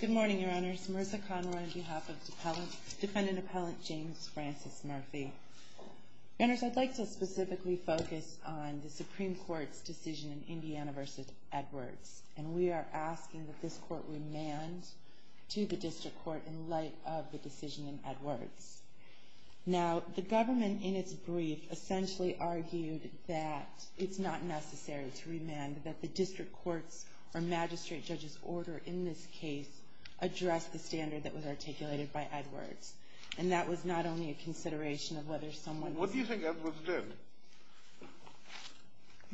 Good morning, Your Honors. Marissa Conroy on behalf of Defendant Appellant James Francis Murphy. Your Honors, I'd like to specifically focus on the Supreme Court's decision in Indiana v. Edwards. And we are asking that this Court remand to the District Court in light of the decision in Edwards. Now, the government in its brief essentially argued that it's not necessary to remand, that the District Court's or Magistrate Judge's order in this case addressed the standard that was articulated by Edwards. And that was not only a consideration of whether someone... What do you think Edwards did?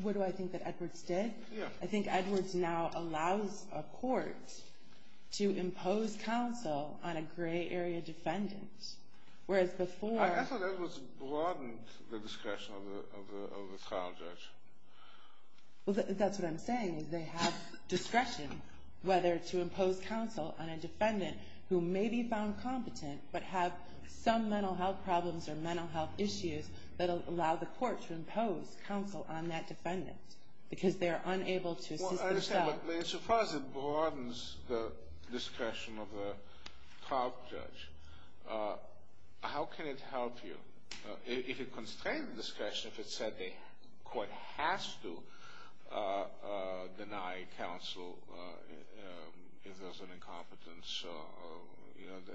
What do I think that Edwards did? Yeah. I think Edwards now allows a court to impose counsel on a gray area defendant. Whereas before... I thought Edwards broadened the discretion of the trial judge. Well, that's what I'm saying. They have discretion whether to impose counsel on a defendant who may be found competent, but have some mental health problems or mental health issues that allow the court to impose counsel on that defendant. Because they are unable to assist themselves. Well, I understand, but it's surprising. It broadens the discretion of the trial judge. How can it help you? If it constrains discretion, if it said the court has to deny counsel if there's an incompetence,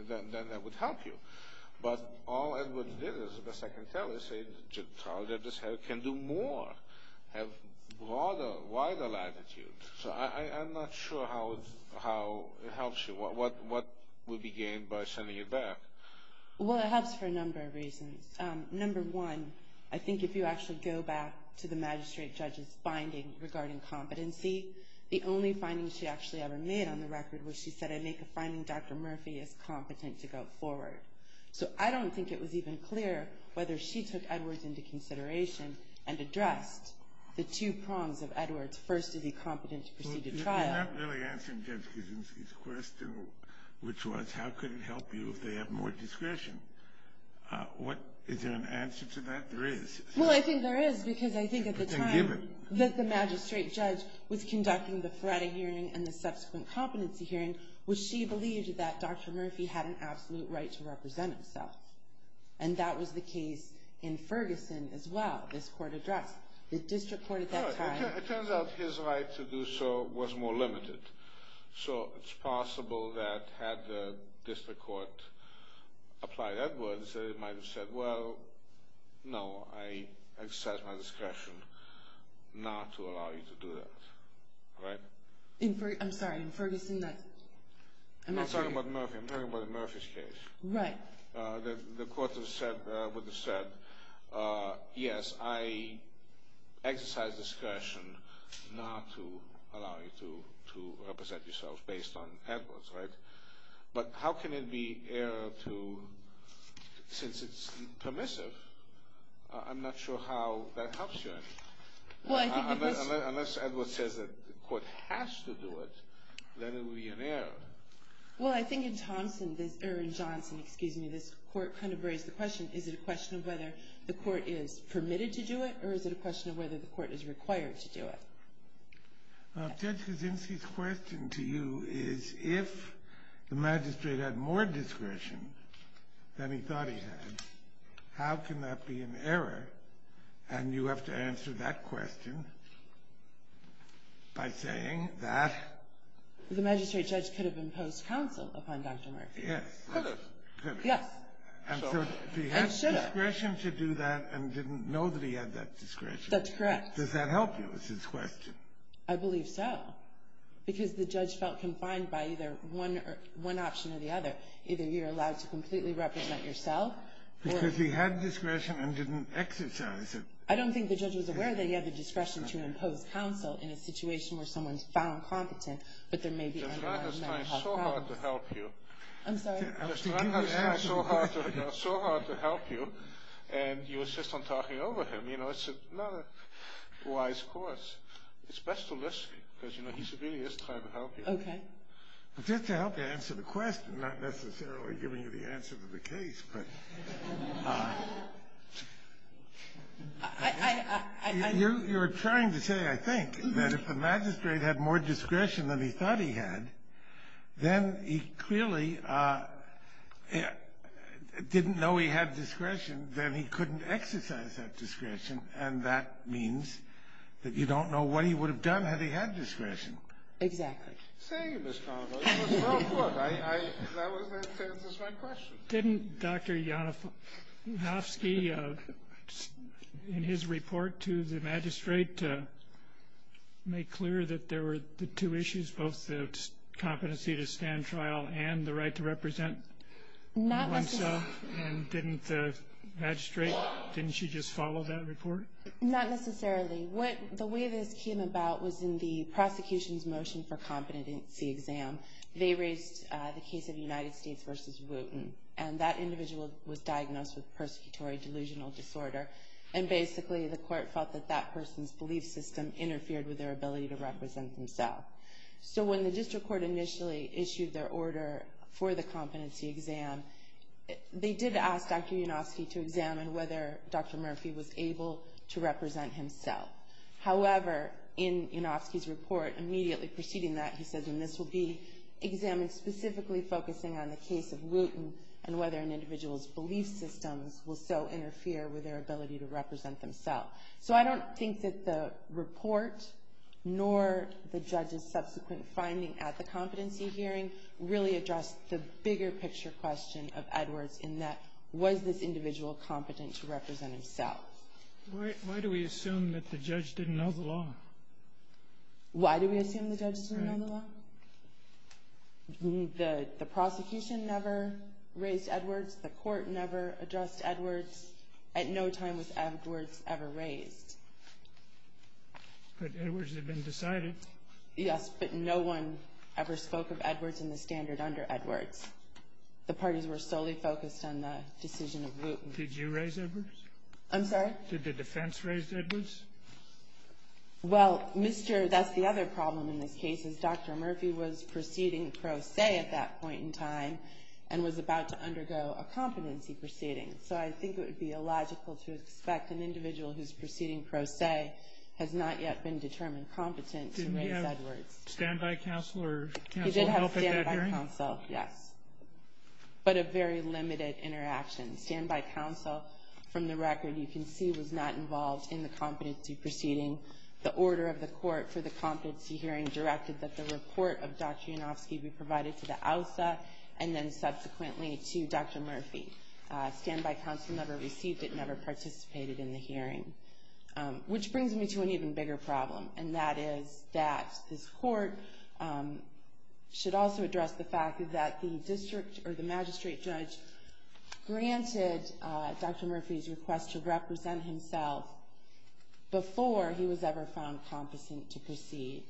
then that would help you. But all Edwards did, as best I can tell, is say, the trial judge can do more, have broader, wider latitude. So I'm not sure how it helps you. What would be gained by sending it back? Well, it helps for a number of reasons. Number one, I think if you actually go back to the magistrate judge's finding regarding competency, the only finding she actually ever made on the record was she said, I make a finding Dr. Murphy is competent to go forward. So I don't think it was even clear whether she took Edwards into consideration and addressed the two prongs of Edwards, first, is he competent to proceed to trial. You're not really answering Judge Kuczynski's question, which was how could it help you if they have more discretion. Is there an answer to that? There is. Well, I think there is, because I think at the time that the magistrate judge was conducting the Feretta hearing and the subsequent competency hearing was she believed that Dr. Murphy had an absolute right to represent himself. And that was the case in Ferguson as well, this court addressed. It turns out his right to do so was more limited. So it's possible that had the district court applied Edwards, they might have said, well, no, I exercise my discretion not to allow you to do that. Right? I'm sorry, in Ferguson, I'm not sure. I'm talking about Murphy's case. Right. The court would have said, yes, I exercise discretion not to allow you to represent yourself based on Edwards. Right? But how can it be error to, since it's permissive, I'm not sure how that helps you. Unless Edwards says that the court has to do it, then it would be an error. Well, I think in Johnson, this court kind of raised the question, is it a question of whether the court is permitted to do it or is it a question of whether the court is required to do it? Judge Kuczynski's question to you is, if the magistrate had more discretion than he thought he had, how can that be an error? And you have to answer that question by saying that the magistrate judge could have imposed counsel upon Dr. Murphy. Yes. Could have. Yes. And should have. And so he had discretion to do that and didn't know that he had that discretion. That's correct. Does that help you, is his question? I believe so. Because the judge felt confined by either one option or the other. Either you're allowed to completely represent yourself. Because he had discretion and didn't exercise it. I don't think the judge was aware that he had the discretion to impose counsel in a situation where someone's found competent, but there may be underlying mental health problems. The judge is trying so hard to help you. I'm sorry? The judge is trying so hard to help you, and you insist on talking over him. You know, it's not a wise course. It's best to listen, because, you know, he really is trying to help you. Okay. Just to help you answer the question, not necessarily giving you the answer to the case. But you're trying to say, I think, that if the magistrate had more discretion than he thought he had, then he clearly didn't know he had discretion, then he couldn't exercise that discretion, and that means that you don't know what he would have done had he had discretion. Exactly. See, Ms. Connelly, it was well put. That answers my question. Didn't Dr. Yanofsky, in his report to the magistrate, make clear that there were the two issues, both the competency to stand trial and the right to represent oneself? Not necessarily. And didn't the magistrate, didn't she just follow that report? Not necessarily. The way this came about was in the prosecution's motion for competency exam. They raised the case of United States versus Wooten, and that individual was diagnosed with persecutory delusional disorder, and basically the court felt that that person's belief system interfered with their ability to represent themselves. So when the district court initially issued their order for the competency exam, they did ask Dr. Yanofsky to examine whether Dr. Murphy was able to represent himself. However, in Yanofsky's report, immediately preceding that, he says, and this will be examined specifically focusing on the case of Wooten and whether an individual's belief systems will so interfere with their ability to represent themselves. So I don't think that the report, nor the judge's subsequent finding at the competency hearing, really addressed the bigger picture question of Edwards in that, was this individual competent to represent himself? Why do we assume that the judge didn't know the law? Why do we assume the judge didn't know the law? The prosecution never raised Edwards. The court never addressed Edwards. At no time was Edwards ever raised. But Edwards had been decided. Yes, but no one ever spoke of Edwards in the standard under Edwards. The parties were solely focused on the decision of Wooten. Did you raise Edwards? I'm sorry? Did the defense raise Edwards? Well, Mr. That's the other problem in this case is Dr. Murphy was proceeding pro se at that point in time and was about to undergo a competency proceeding. So I think it would be illogical to expect an individual who's proceeding pro se has not yet been determined competent to raise Edwards. Did he have standby counsel or counsel help at that hearing? He did have standby counsel, yes. But a very limited interaction. Standby counsel, from the record you can see, was not involved in the competency proceeding. The order of the court for the competency hearing directed that the report of Dr. Yanofsky be provided to the OUSA and then subsequently to Dr. Murphy. Standby counsel never received it, never participated in the hearing. Which brings me to an even bigger problem, and that is that this court should also address the fact that the district or the magistrate judge granted Dr. Murphy's request to represent himself before he was ever found competent to proceed.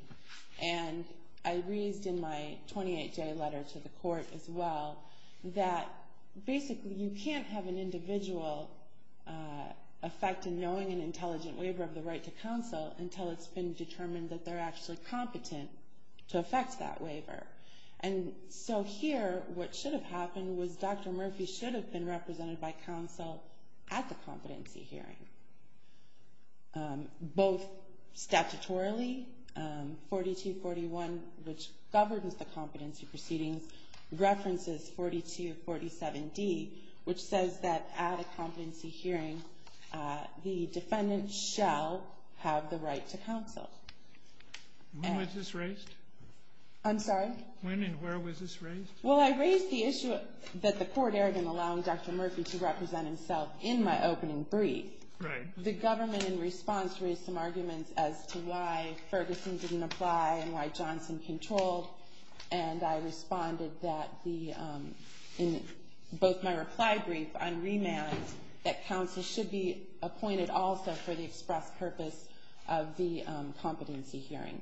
And I raised in my 28-day letter to the court as well that basically you can't have an individual effect in knowing an intelligent waiver of the right to counsel until it's been determined that they're actually competent to effect that waiver. And so here what should have happened was Dr. Murphy should have been represented by counsel at the competency hearing. Both statutorily, 4241, which governs the competency proceedings, references 4247D, which says that at a competency hearing the defendant shall have the right to counsel. When was this raised? I'm sorry? When and where was this raised? Well, I raised the issue that the court erred in allowing Dr. Murphy to represent himself in my opening brief. Right. The government in response raised some arguments as to why Ferguson didn't apply and why Johnson controlled, and I responded that in both my reply brief on remand that counsel should be appointed also for the express purpose of the competency hearing.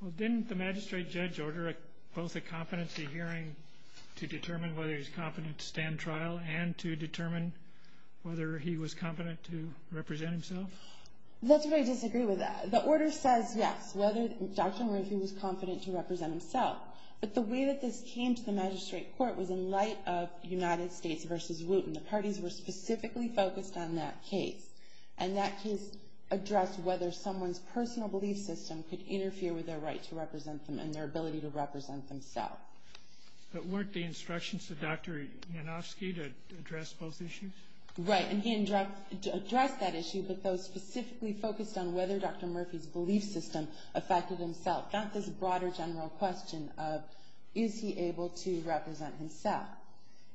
Well, didn't the magistrate judge order both a competency hearing to determine whether he's competent to stand trial and to determine whether he was competent to represent himself? That's where I disagree with that. The order says, yes, Dr. Murphy was competent to represent himself, but the way that this came to the magistrate court was in light of United States v. Wooten. The parties were specifically focused on that case, and that case addressed whether someone's personal belief system could interfere with their right to represent them and their ability to represent themselves. But weren't the instructions to Dr. Yanofsky to address both issues? Right, and he addressed that issue, but those specifically focused on whether Dr. Murphy's belief system affected himself, not this broader general question of is he able to represent himself.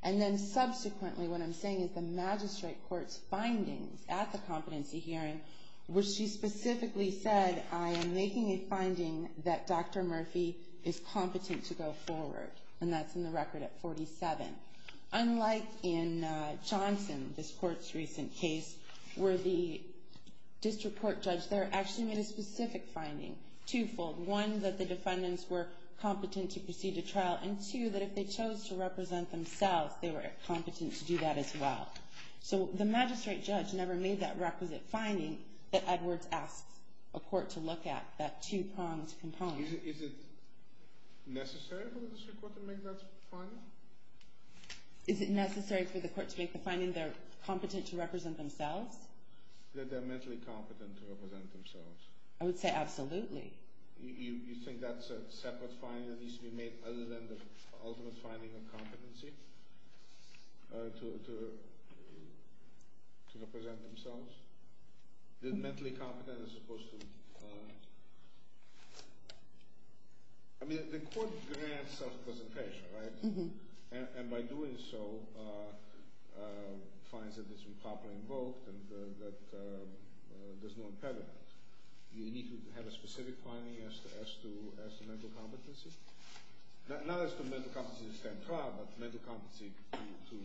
And then subsequently, what I'm saying is the magistrate court's findings at the competency hearing, which she specifically said, I am making a finding that Dr. Murphy is competent to go forward, and that's in the record at 47. Unlike in Johnson, this court's recent case, where the district court judge there actually made a specific finding, twofold, one, that the defendants were competent to proceed to trial, and two, that if they chose to represent themselves, they were competent to do that as well. So the magistrate judge never made that requisite finding that Edwards asked a court to look at, that two-pronged component. Is it necessary for the district court to make that finding? Is it necessary for the court to make the finding they're competent to represent themselves? That they're mentally competent to represent themselves. I would say absolutely. You think that's a separate finding that needs to be made other than the ultimate finding of competency to represent themselves? That mentally competent is supposed to be competent? I mean, the court grants self-presentation, right? And by doing so, finds that it's been properly invoked and that there's no impediment. Do you think that you need to have a specific finding as to mental competency? Not as to mental competency to stand trial, but mental competency to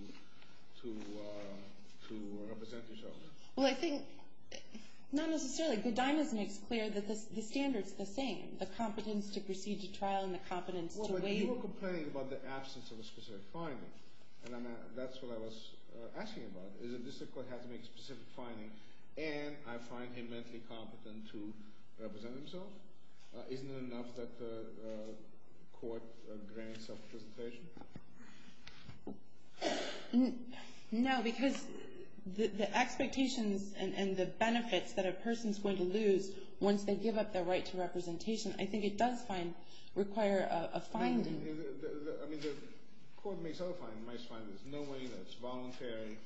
represent yourself. Well, I think, not necessarily. Godinez makes clear that the standard's the same. The competence to proceed to trial and the competence to wait. Well, but you were complaining about the absence of a specific finding. And that's what I was asking about. Is it just the court has to make a specific finding, and I find him mentally competent to represent himself? Isn't it enough that the court grants self-presentation? No, because the expectations and the benefits that a person's going to lose once they give up their right to representation, I think it does require a finding. I mean, the court makes other findings. My finding is that knowing that it's voluntary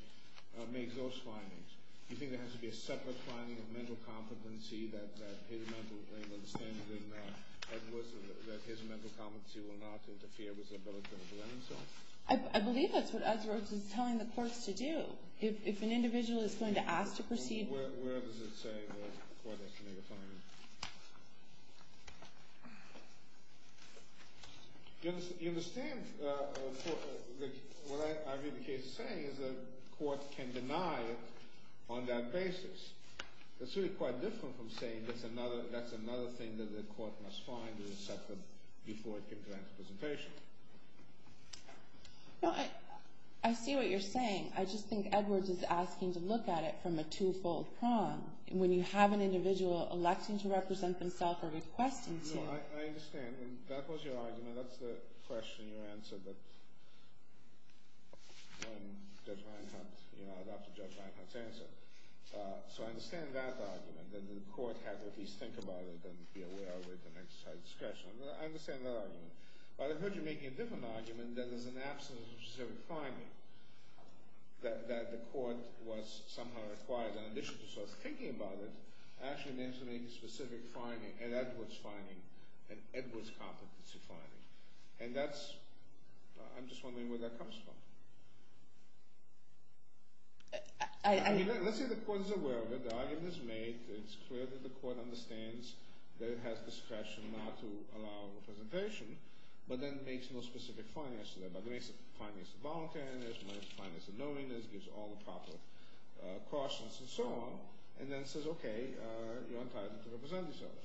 makes those findings. Do you think there has to be a separate finding of mental competency that his mental competency will not interfere with his ability to represent himself? I believe that's what Udz Roach is telling the courts to do. If an individual is going to ask to proceed... Where does it say that the court has to make a finding? You understand what I hear the case saying is that the court can deny it on that basis. That's really quite different from saying that's another thing that the court must find or accept before it can grant representation. I see what you're saying. I just think Edwards is asking to look at it from a two-fold prong. When you have an individual electing to represent themself or requesting to... I understand. That was your argument. That's the question you answered when Judge Reinhardt... You know, after Judge Reinhardt's answer. So I understand that argument, that the court had to at least think about it and be aware of it and exercise discretion. I understand that argument. But I've heard you making a different argument that there's an absence of a specific finding, that the court was somehow required, in addition to sort of thinking about it, actually to make a specific finding, an Edwards finding, an Edwards competency finding. And that's... I'm just wondering where that comes from. I... Let's say the court is aware of it, the argument is made, it's clear that the court understands that it has discretion not to allow representation, but then makes no specific findings to that. But it makes findings to voluntariness, makes findings to knowingness, gives all the proper cautions and so on, and then says, okay, you're entitled to represent yourself.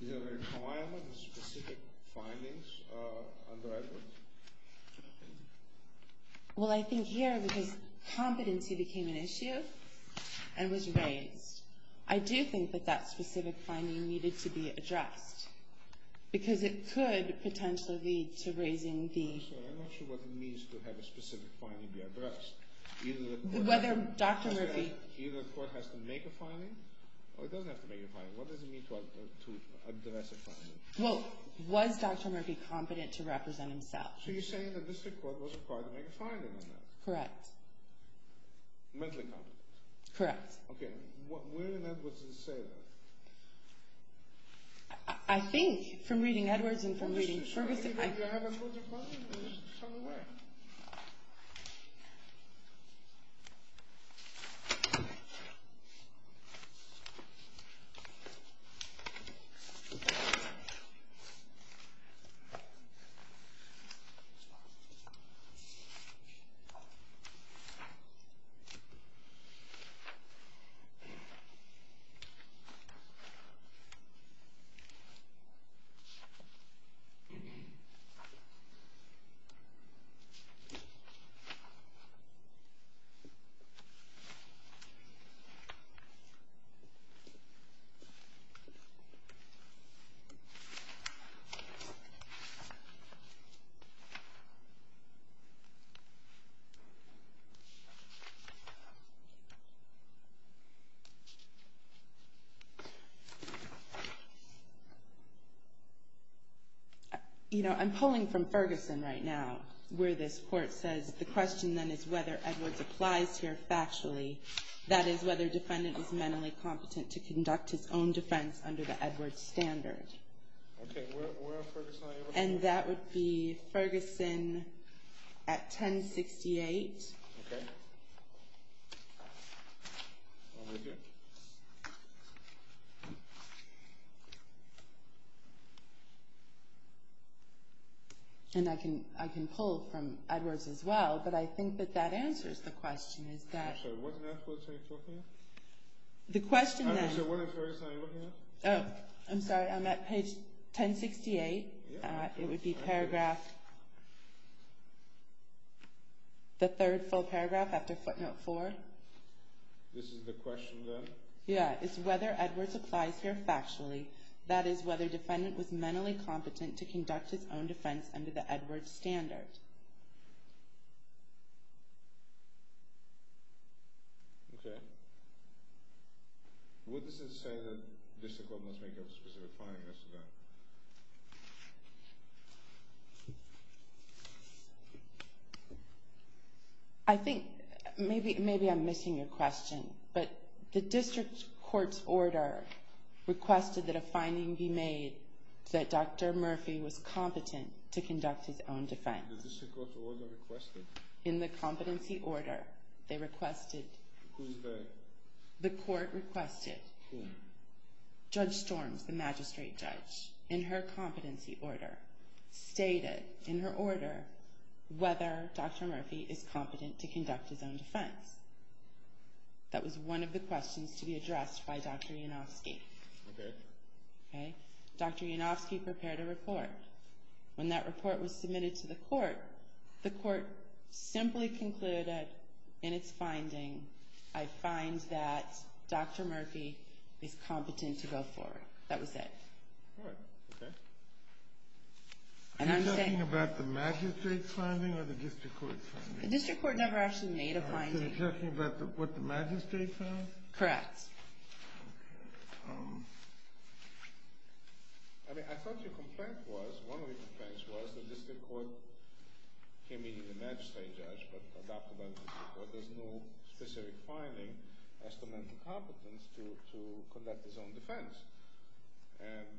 Is there a requirement of specific findings under Edwards? Well, I think here, because competency became an issue and was raised, I do think that that specific finding needed to be addressed. Because it could potentially lead to raising the... I'm sorry, I'm not sure what it means to have a specific finding be addressed. Whether Dr. Murphy... Either the court has to make a finding, or it doesn't have to make a finding. What does it mean to address a finding? Well, was Dr. Murphy competent to represent himself? So you're saying that the district court was required to make a finding on that? Correct. Mentally competent? Correct. Okay, where in Edwards does it say that? I think, from reading Edwards and from reading Ferguson... Maybe I haven't looked at my... It's somewhere. Okay. I'm pulling from Ferguson right now, where this court says, the question then is whether Edwards applies here factually. That is, whether a defendant is mentally competent to conduct his own defense under the Edwards standard. Okay, where are Ferguson and Edwards? And that would be Ferguson at 1068. Okay. Over here. And I can pull from Edwards as well, but I think that that answers the question, is that... I'm sorry, what in Edwards are you talking about? The question then... I'm sorry, what in Ferguson are you looking at? Oh, I'm sorry, I'm at page 1068. It would be paragraph... The third full paragraph after footnote four. This is the question then? Yeah, it's whether Edwards applies here factually. That is, whether a defendant was mentally competent to conduct his own defense under the Edwards standard. Okay. Would this say that district court must make a specific finding as to that? I think, maybe I'm missing your question, but the district court's order requested that a finding be made that Dr. Murphy was competent to conduct his own defense. The district court's order requested? In the competency order, they requested... Who is that? The court requested. Who? Judge Storms, the magistrate judge, in her competency order, stated in her order whether Dr. Murphy is competent to conduct his own defense. That was one of the questions to be addressed by Dr. Yanofsky. Okay. Dr. Yanofsky prepared a report. When that report was submitted to the court, the court simply concluded in its finding, I find that Dr. Murphy is competent to go forward. That was it. All right, okay. Are you talking about the magistrate's finding or the district court's finding? The district court never actually made a finding. So you're talking about what the magistrate found? Correct. I mean, I thought your complaint was, one of your complaints was, the district court came in as a magistrate judge, but adopted by the district court, there's no specific finding as to mental competence to conduct his own defense. And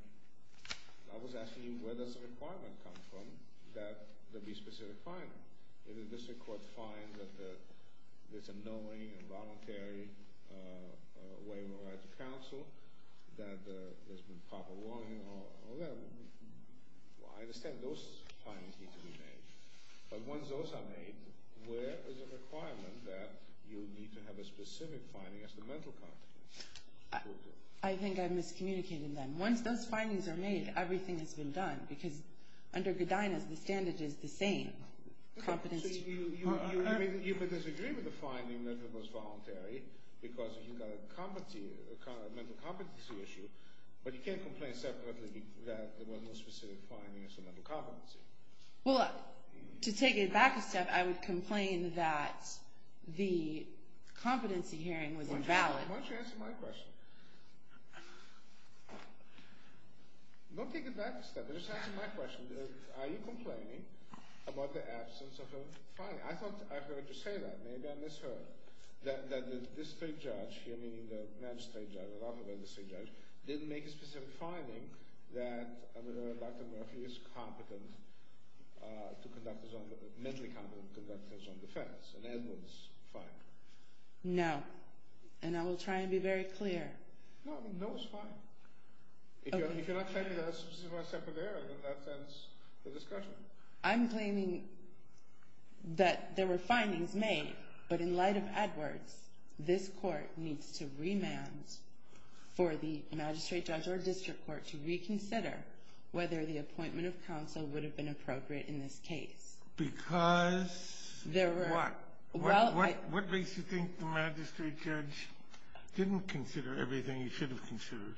I was asking you where does the requirement come from that there be a specific finding? Does the district court find that there's a knowing and voluntary way to counsel, that there's been proper warning, all that? I understand those findings need to be made. But once those are made, where is the requirement that you need to have a specific finding as to mental competence? I think I've miscommunicated that. Once those findings are made, everything has been done. Because under Godinez, the standard is the same. I mean, you could disagree with the finding that it was voluntary, because you've got a mental competency issue, but you can't complain separately that there was no specific finding as to mental competency. Well, to take it back a step, I would complain that the competency hearing was invalid. Why don't you answer my question? Don't take it back a step. Just answer my question. Are you complaining about the absence of a finding? I thought I heard you say that. Maybe I misheard. That the district judge, meaning the magistrate judge, didn't make a specific finding that Dr. Murphy is mentally competent to conduct his own defense. And Edwin's fine. No. And I will try and be very clear. No, it's fine. If you're not claiming there was a separate error, then that ends the discussion. I'm claiming that there were findings made, but in light of Edwards, this court needs to remand for the magistrate judge or district court to reconsider whether the appointment of counsel would have been appropriate in this case. Because what? What makes you think the magistrate judge didn't consider everything he should have considered?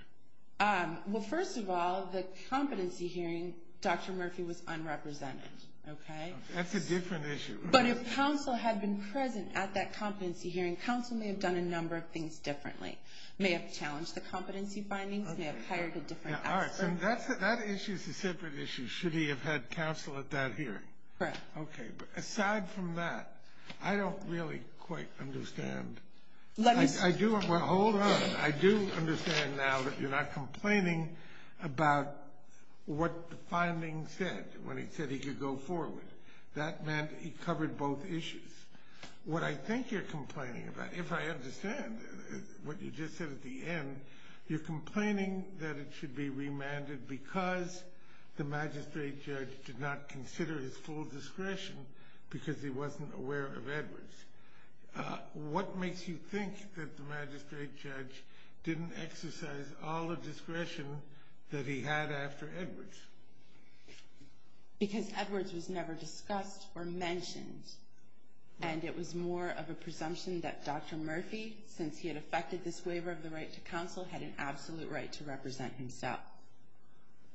Well, first of all, the competency hearing, Dr. Murphy was unrepresented. That's a different issue. But if counsel had been present at that competency hearing, counsel may have done a number of things differently. May have challenged the competency findings. May have hired a different expert. That issue is a separate issue. Should he have had counsel at that hearing? Correct. Okay. But aside from that, I don't really quite understand. Let me see. Hold on. I do understand now that you're not complaining about what the findings said, when he said he could go forward. That meant he covered both issues. What I think you're complaining about, if I understand what you just said at the end, you're complaining that it should be remanded because the magistrate judge did not consider his full discretion because he wasn't aware of Edwards. What makes you think that the magistrate judge didn't exercise all the discretion that he had after Edwards? Because Edwards was never discussed or mentioned. And it was more of a presumption that Dr. Murphy, since he had effected this waiver of the right to counsel, had an absolute right to represent himself.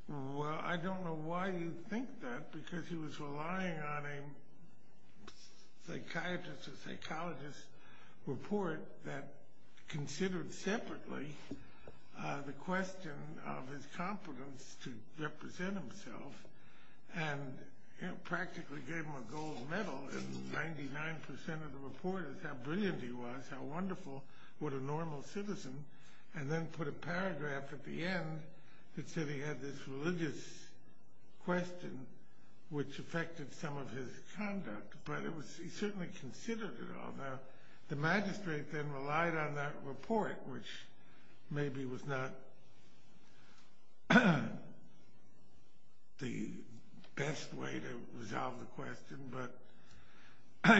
Well, I don't know why you think that, because he was relying on a psychiatrist or psychologist report that considered separately the question of his competence to represent himself and practically gave him a gold medal. And 99% of the report is how brilliant he was, how wonderful, what a normal citizen. And then put a paragraph at the end that said he had this religious question, which affected some of his conduct. But he certainly considered it all. The magistrate then relied on that report, which maybe was not the best way to resolve the question. But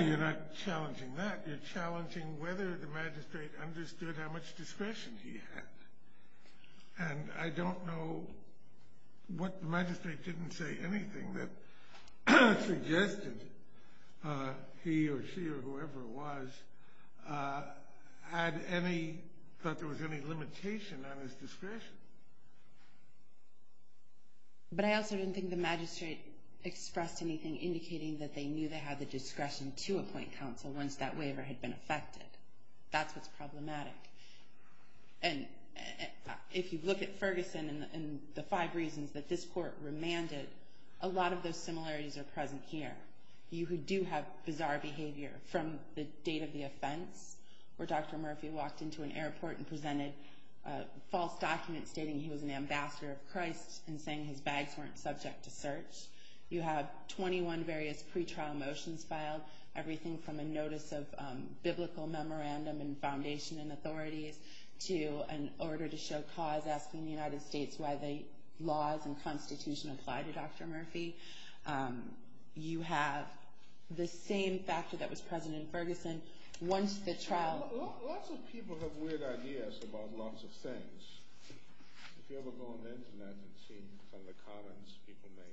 you're not challenging that. You're challenging whether the magistrate understood how much discretion he had. And I don't know what the magistrate didn't say anything that suggested he or she or whoever it was had any, thought there was any limitation on his discretion. But I also didn't think the magistrate expressed anything indicating that they knew they had the discretion to appoint counsel once that waiver had been effected. That's what's problematic. And if you look at Ferguson and the five reasons that this court remanded, a lot of those similarities are present here. You do have bizarre behavior from the date of the offense, where Dr. Murphy walked into an airport and presented a false document stating he was an ambassador of Christ and saying his bags weren't subject to search. You have 21 various pretrial motions filed, everything from a notice of biblical memorandum and foundation and authorities to an order to show cause asking the United States why the laws and constitution apply to Dr. Murphy. You have the same factor that was present in Ferguson once the trial... Lots of people have weird ideas about lots of things. If you ever go on the Internet and see some of the comments people make,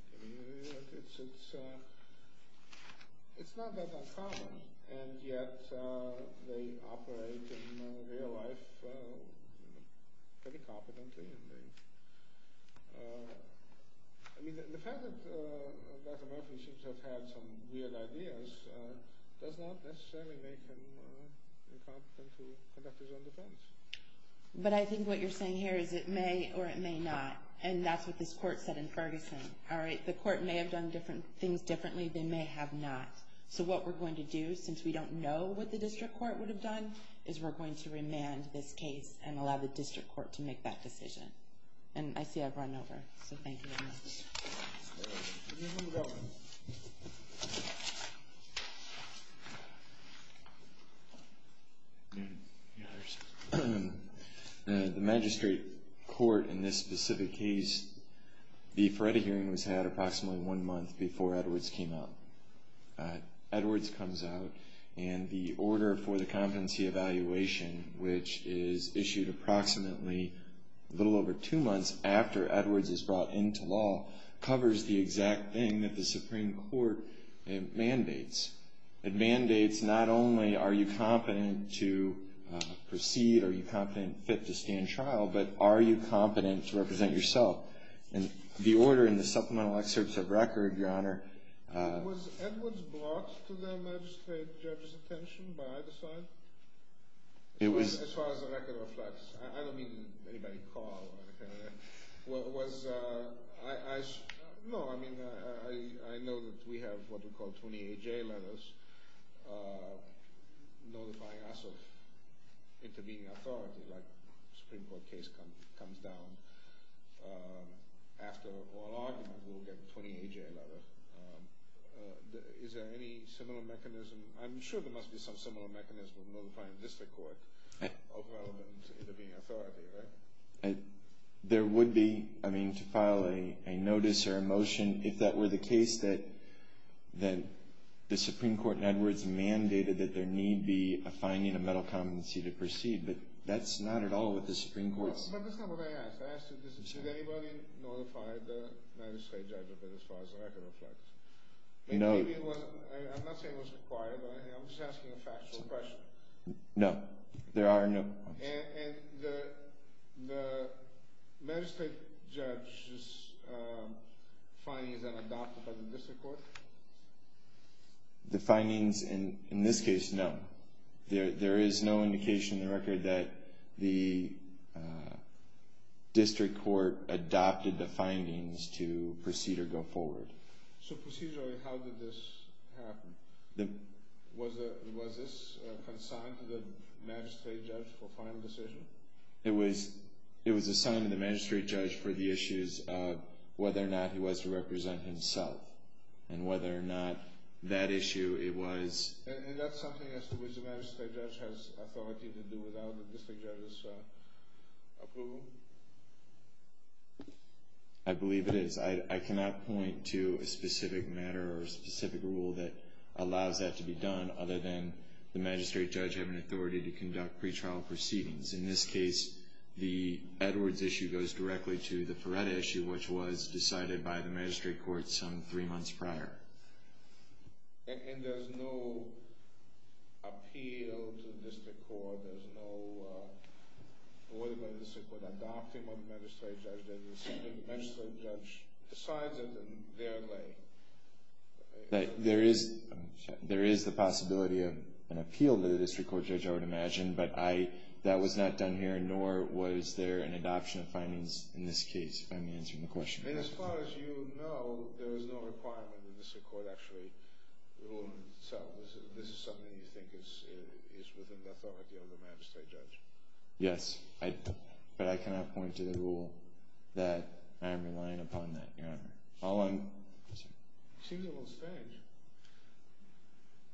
it's not that uncommon. And yet they operate in real life pretty competently. The fact that Dr. Murphy seems to have had some weird ideas does not necessarily make him incompetent to conduct his own defense. But I think what you're saying here is it may or it may not. All right, the court may have done things differently, they may have not. So what we're going to do, since we don't know what the district court would have done, is we're going to remand this case and allow the district court to make that decision. And I see I've run over, so thank you very much. Yes. The magistrate court in this specific case, the affredi hearing was had approximately one month before Edwards came out. Edwards comes out and the order for the competency evaluation, which is issued approximately a little over two months after Edwards is brought into law, covers the exact thing that the Supreme Court mandates. It mandates not only are you competent to proceed, are you competent and fit to stand trial, but are you competent to represent yourself. And the order in the supplemental excerpts of record, Your Honor, Was Edwards brought to the magistrate judge's attention by either side? As far as the record reflects. I don't mean anybody called or anything like that. No, I mean, I know that we have what we call 28-J letters notifying us of intervening authority, like the Supreme Court case comes down. After all arguments, we'll get 28-J letters. Is there any similar mechanism? I'm sure there must be some similar mechanism of notifying district court of relevant intervening authority, right? There would be, I mean, to file a notice or a motion, if that were the case that the Supreme Court in Edwards mandated that there need be a finding of metal competency to proceed. But that's not at all what the Supreme Court said. But that's not what I asked. I asked if anybody notified the magistrate judge of it as far as the record reflects. I'm not saying it was required. I'm just asking a factual question. No, there are no. And the magistrate judge's findings are adopted by the district court? The findings in this case, no. There is no indication in the record that the district court adopted the findings to proceed or go forward. So procedurally, how did this happen? Was this consigned to the magistrate judge for final decision? It was assigned to the magistrate judge for the issues of whether or not he was to represent himself, and whether or not that issue, it was. And that's something as to which the magistrate judge has authority to do without the district judge's approval? I believe it is. I cannot point to a specific matter or a specific rule that allows that to be done, other than the magistrate judge having authority to conduct pretrial proceedings. In this case, the Edwards issue goes directly to the Ferretta issue, which was decided by the magistrate court some three months prior. And there's no appeal to the district court? There's no order by the district court adopting what the magistrate judge did? The magistrate judge decides it in their lay? There is the possibility of an appeal to the district court, Judge, I would imagine, but that was not done here, nor was there an adoption of findings in this case, if I'm answering the question correctly. And as far as you know, there is no requirement in the district court actually to rule himself. This is something you think is within the authority of the magistrate judge? Yes, but I cannot point to the rule that I am relying upon that, Your Honor. It seems a little strange.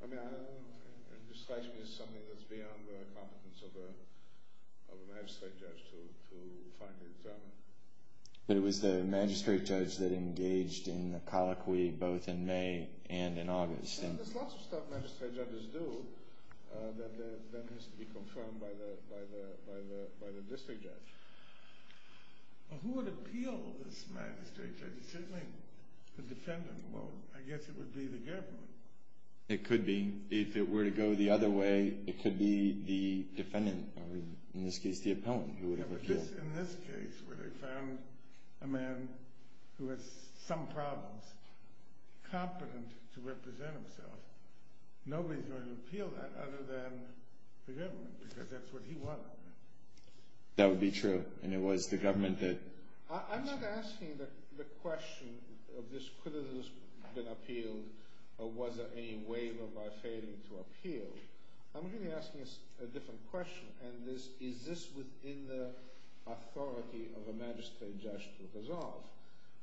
I mean, it strikes me as something that's beyond the competence of a magistrate judge to finally determine. But it was the magistrate judge that engaged in the colloquy both in May and in August. There's lots of stuff magistrate judges do that then has to be confirmed by the district judge. Well, who would appeal this magistrate judge? It's certainly the defendant. Well, I guess it would be the government. It could be. If it were to go the other way, it could be the defendant, or in this case, the appellant, who would have appealed. In this case, where they found a man who has some problems, competent to represent himself, nobody's going to appeal that other than the government, because that's what he wanted. That would be true, and it was the government that... I'm not asking the question of this could have been appealed, or was there any way by failing to appeal. I'm really asking a different question, and this, is this within the authority of a magistrate judge to resolve?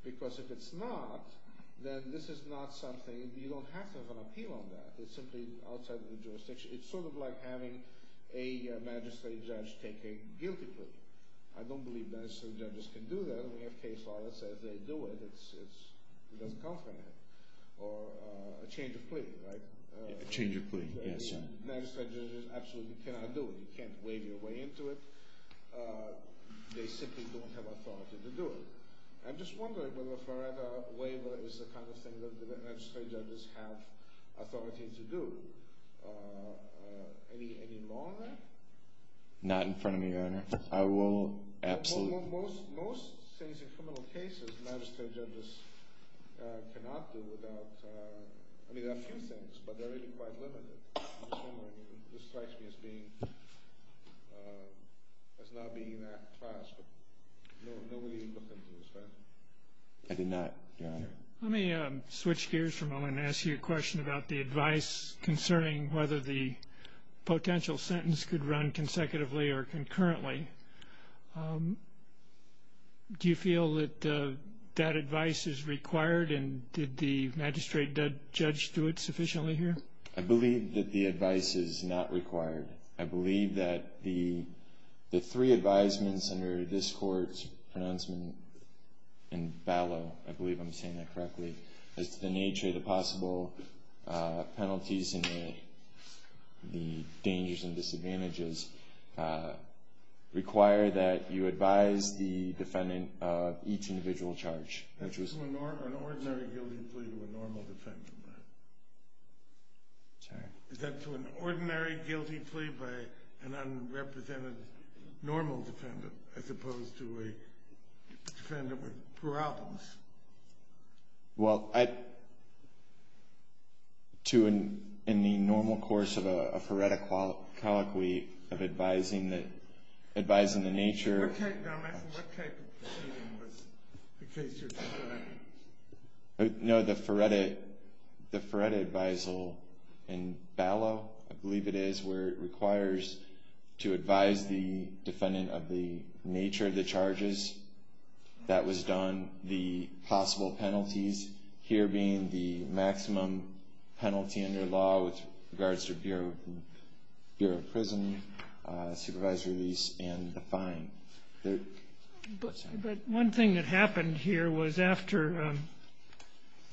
Because if it's not, then this is not something, you don't have to have an appeal on that. It's simply outside the jurisdiction. It's sort of like having a magistrate judge take a guilty plea. I don't believe magistrate judges can do that. We have case law that says they do it. It doesn't come from them. Or a change of plea, right? A change of plea, yes. Magistrate judges absolutely cannot do it. You can't waive your way into it. They simply don't have authority to do it. I'm just wondering whether a Florida waiver is the kind of thing that magistrate judges have authority to do. Any law on that? Not in front of me, Your Honor. I will absolutely... But they're really quite limited. I'm just wondering. This strikes me as being, as not being an act of trust. Nobody looked into this, right? I did not, Your Honor. Let me switch gears for a moment and ask you a question about the advice concerning whether the potential sentence could run consecutively or concurrently. Do you feel that that advice is required, and did the magistrate judge do it sufficiently here? I believe that the advice is not required. I believe that the three advisements under this Court's pronouncement in Ballot, I believe I'm saying that correctly, as to the nature of the possible penalties and the dangers and disadvantages, require that you advise the defendant of each individual charge. That's to an ordinary guilty plea to a normal defendant, right? Sorry? Is that to an ordinary guilty plea by an unrepresented normal defendant as opposed to a defendant with problems? Well, I... To an, in the normal course of a foretta colloquy of advising that, advising the nature... What type of proceeding was the case you're talking about? No, the foretta, the foretta advisal in Ballot, I believe it is, where it requires to advise the defendant of the nature of the charges that was done. The possible penalties here being the maximum penalty under law with regards to Bureau of Prison, supervisory release, and the fine. But one thing that happened here was after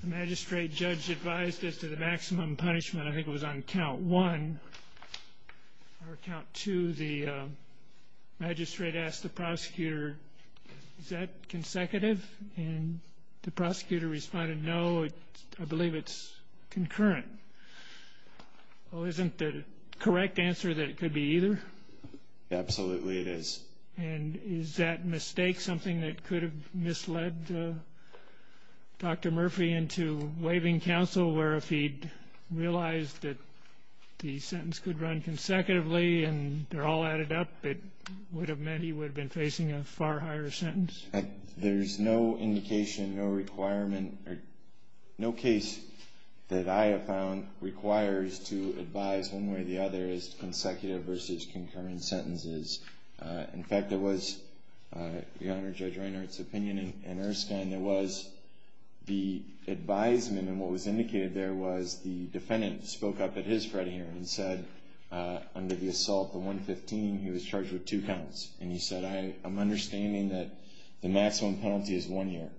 the magistrate judge advised as to the maximum punishment, I think it was on count one, or count two, the magistrate asked the prosecutor, is that consecutive? And the prosecutor responded, no, I believe it's concurrent. Well, isn't the correct answer that it could be either? Absolutely it is. And is that mistake something that could have misled Dr. Murphy into waiving counsel, where if he'd realized that the sentence could run consecutively and they're all added up, it would have meant he would have been facing a far higher sentence? There's no indication, no requirement, no case that I have found requires to advise one way or the other as to consecutive versus concurrent sentences. In fact, there was, Your Honor, Judge Reinhart's opinion in Erskine, there was the advisement. And what was indicated there was the defendant spoke up at his trial hearing and said under the assault of 115, he was charged with two counts. And he said, I'm understanding that the maximum penalty is one year.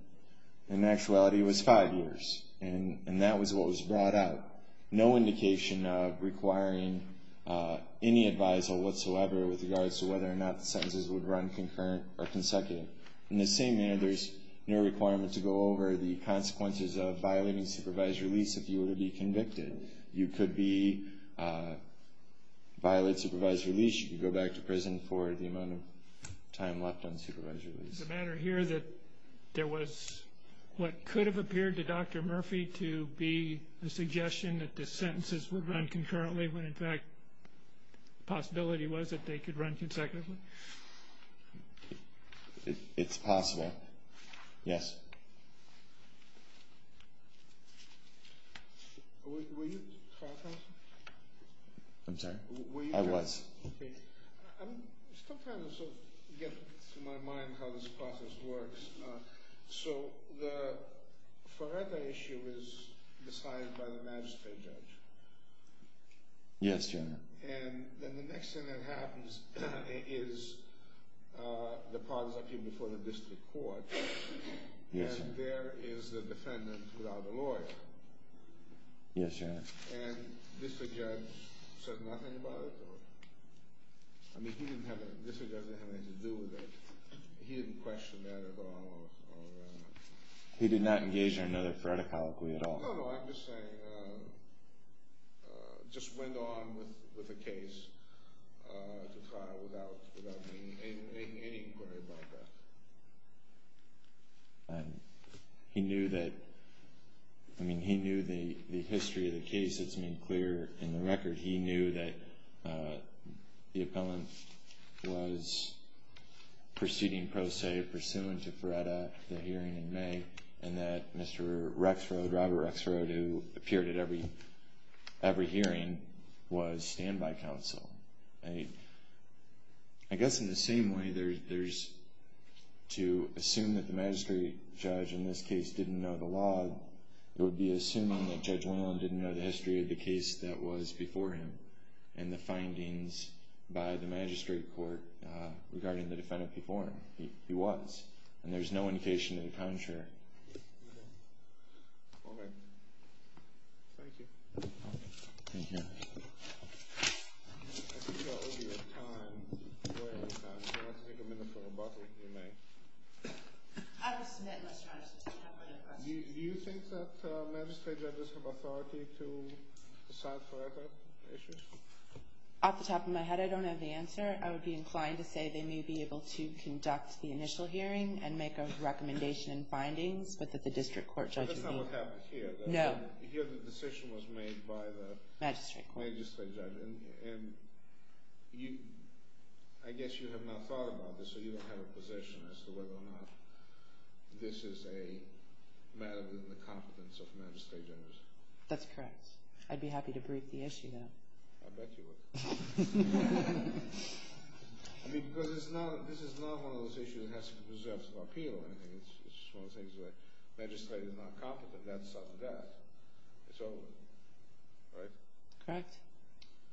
In actuality, it was five years. And that was what was brought out. No indication of requiring any advisal whatsoever with regards to whether or not the sentences would run concurrent or consecutive. In the same manner, there's no requirement to go over the consequences of violating supervised release if you were to be convicted. You could violate supervised release. You could go back to prison for the amount of time left on supervised release. Is it a matter here that there was what could have appeared to Dr. Murphy to be a suggestion that the sentences would run concurrently when, in fact, the possibility was that they could run consecutively? It's possible. Yes. Were you talking? I'm sorry? I was. I'm still trying to sort of get to my mind how this process works. So the Faretta issue is decided by the magistrate judge. Yes, Your Honor. And then the next thing that happens is the part is up here before the district court. Yes, Your Honor. And there is the defendant without a lawyer. Yes, Your Honor. And this judge said nothing about it? I mean, this judge didn't have anything to do with it. He didn't question that at all? He did not engage in another Faretta colloquy at all. No, no. I'm just saying just went on with the case to try without any inquiry about that. And he knew that, I mean, he knew the history of the case. It's been clear in the record. He knew that the appellant was proceeding pro se, pursuant to Faretta, the hearing in May, and that Mr. Rexrod, Robert Rexrod, who appeared at every hearing, was standby counsel. I guess in the same way there's to assume that the magistrate judge in this case didn't know the law, it would be assuming that Judge Whalen didn't know the history of the case that was before him and the findings by the magistrate court regarding the defendant before him. He was. And there's no indication of the contrary. All right. Thank you. Thank you. I think we are over your time. If you want to take a minute for rebuttal, you may. I will submit, Mr. Honor, since I don't have any other questions. Do you think that magistrate judges have authority to decide Faretta issues? Off the top of my head, I don't have the answer. I would be inclined to say they may be able to conduct the initial hearing and make a recommendation and findings, but that the district court judge would meet. That's not what happened here. No. Here the decision was made by the magistrate court. And I guess you have not thought about this, so you don't have a position as to whether or not this is a matter within the competence of magistrate judges. That's correct. I'd be happy to brief the issue, though. I bet you would. I mean, because this is not one of those issues that has to be preserved for appeal or anything. It's just one of those things where magistrate is not competent, that's sudden death. It's over. Right? Correct.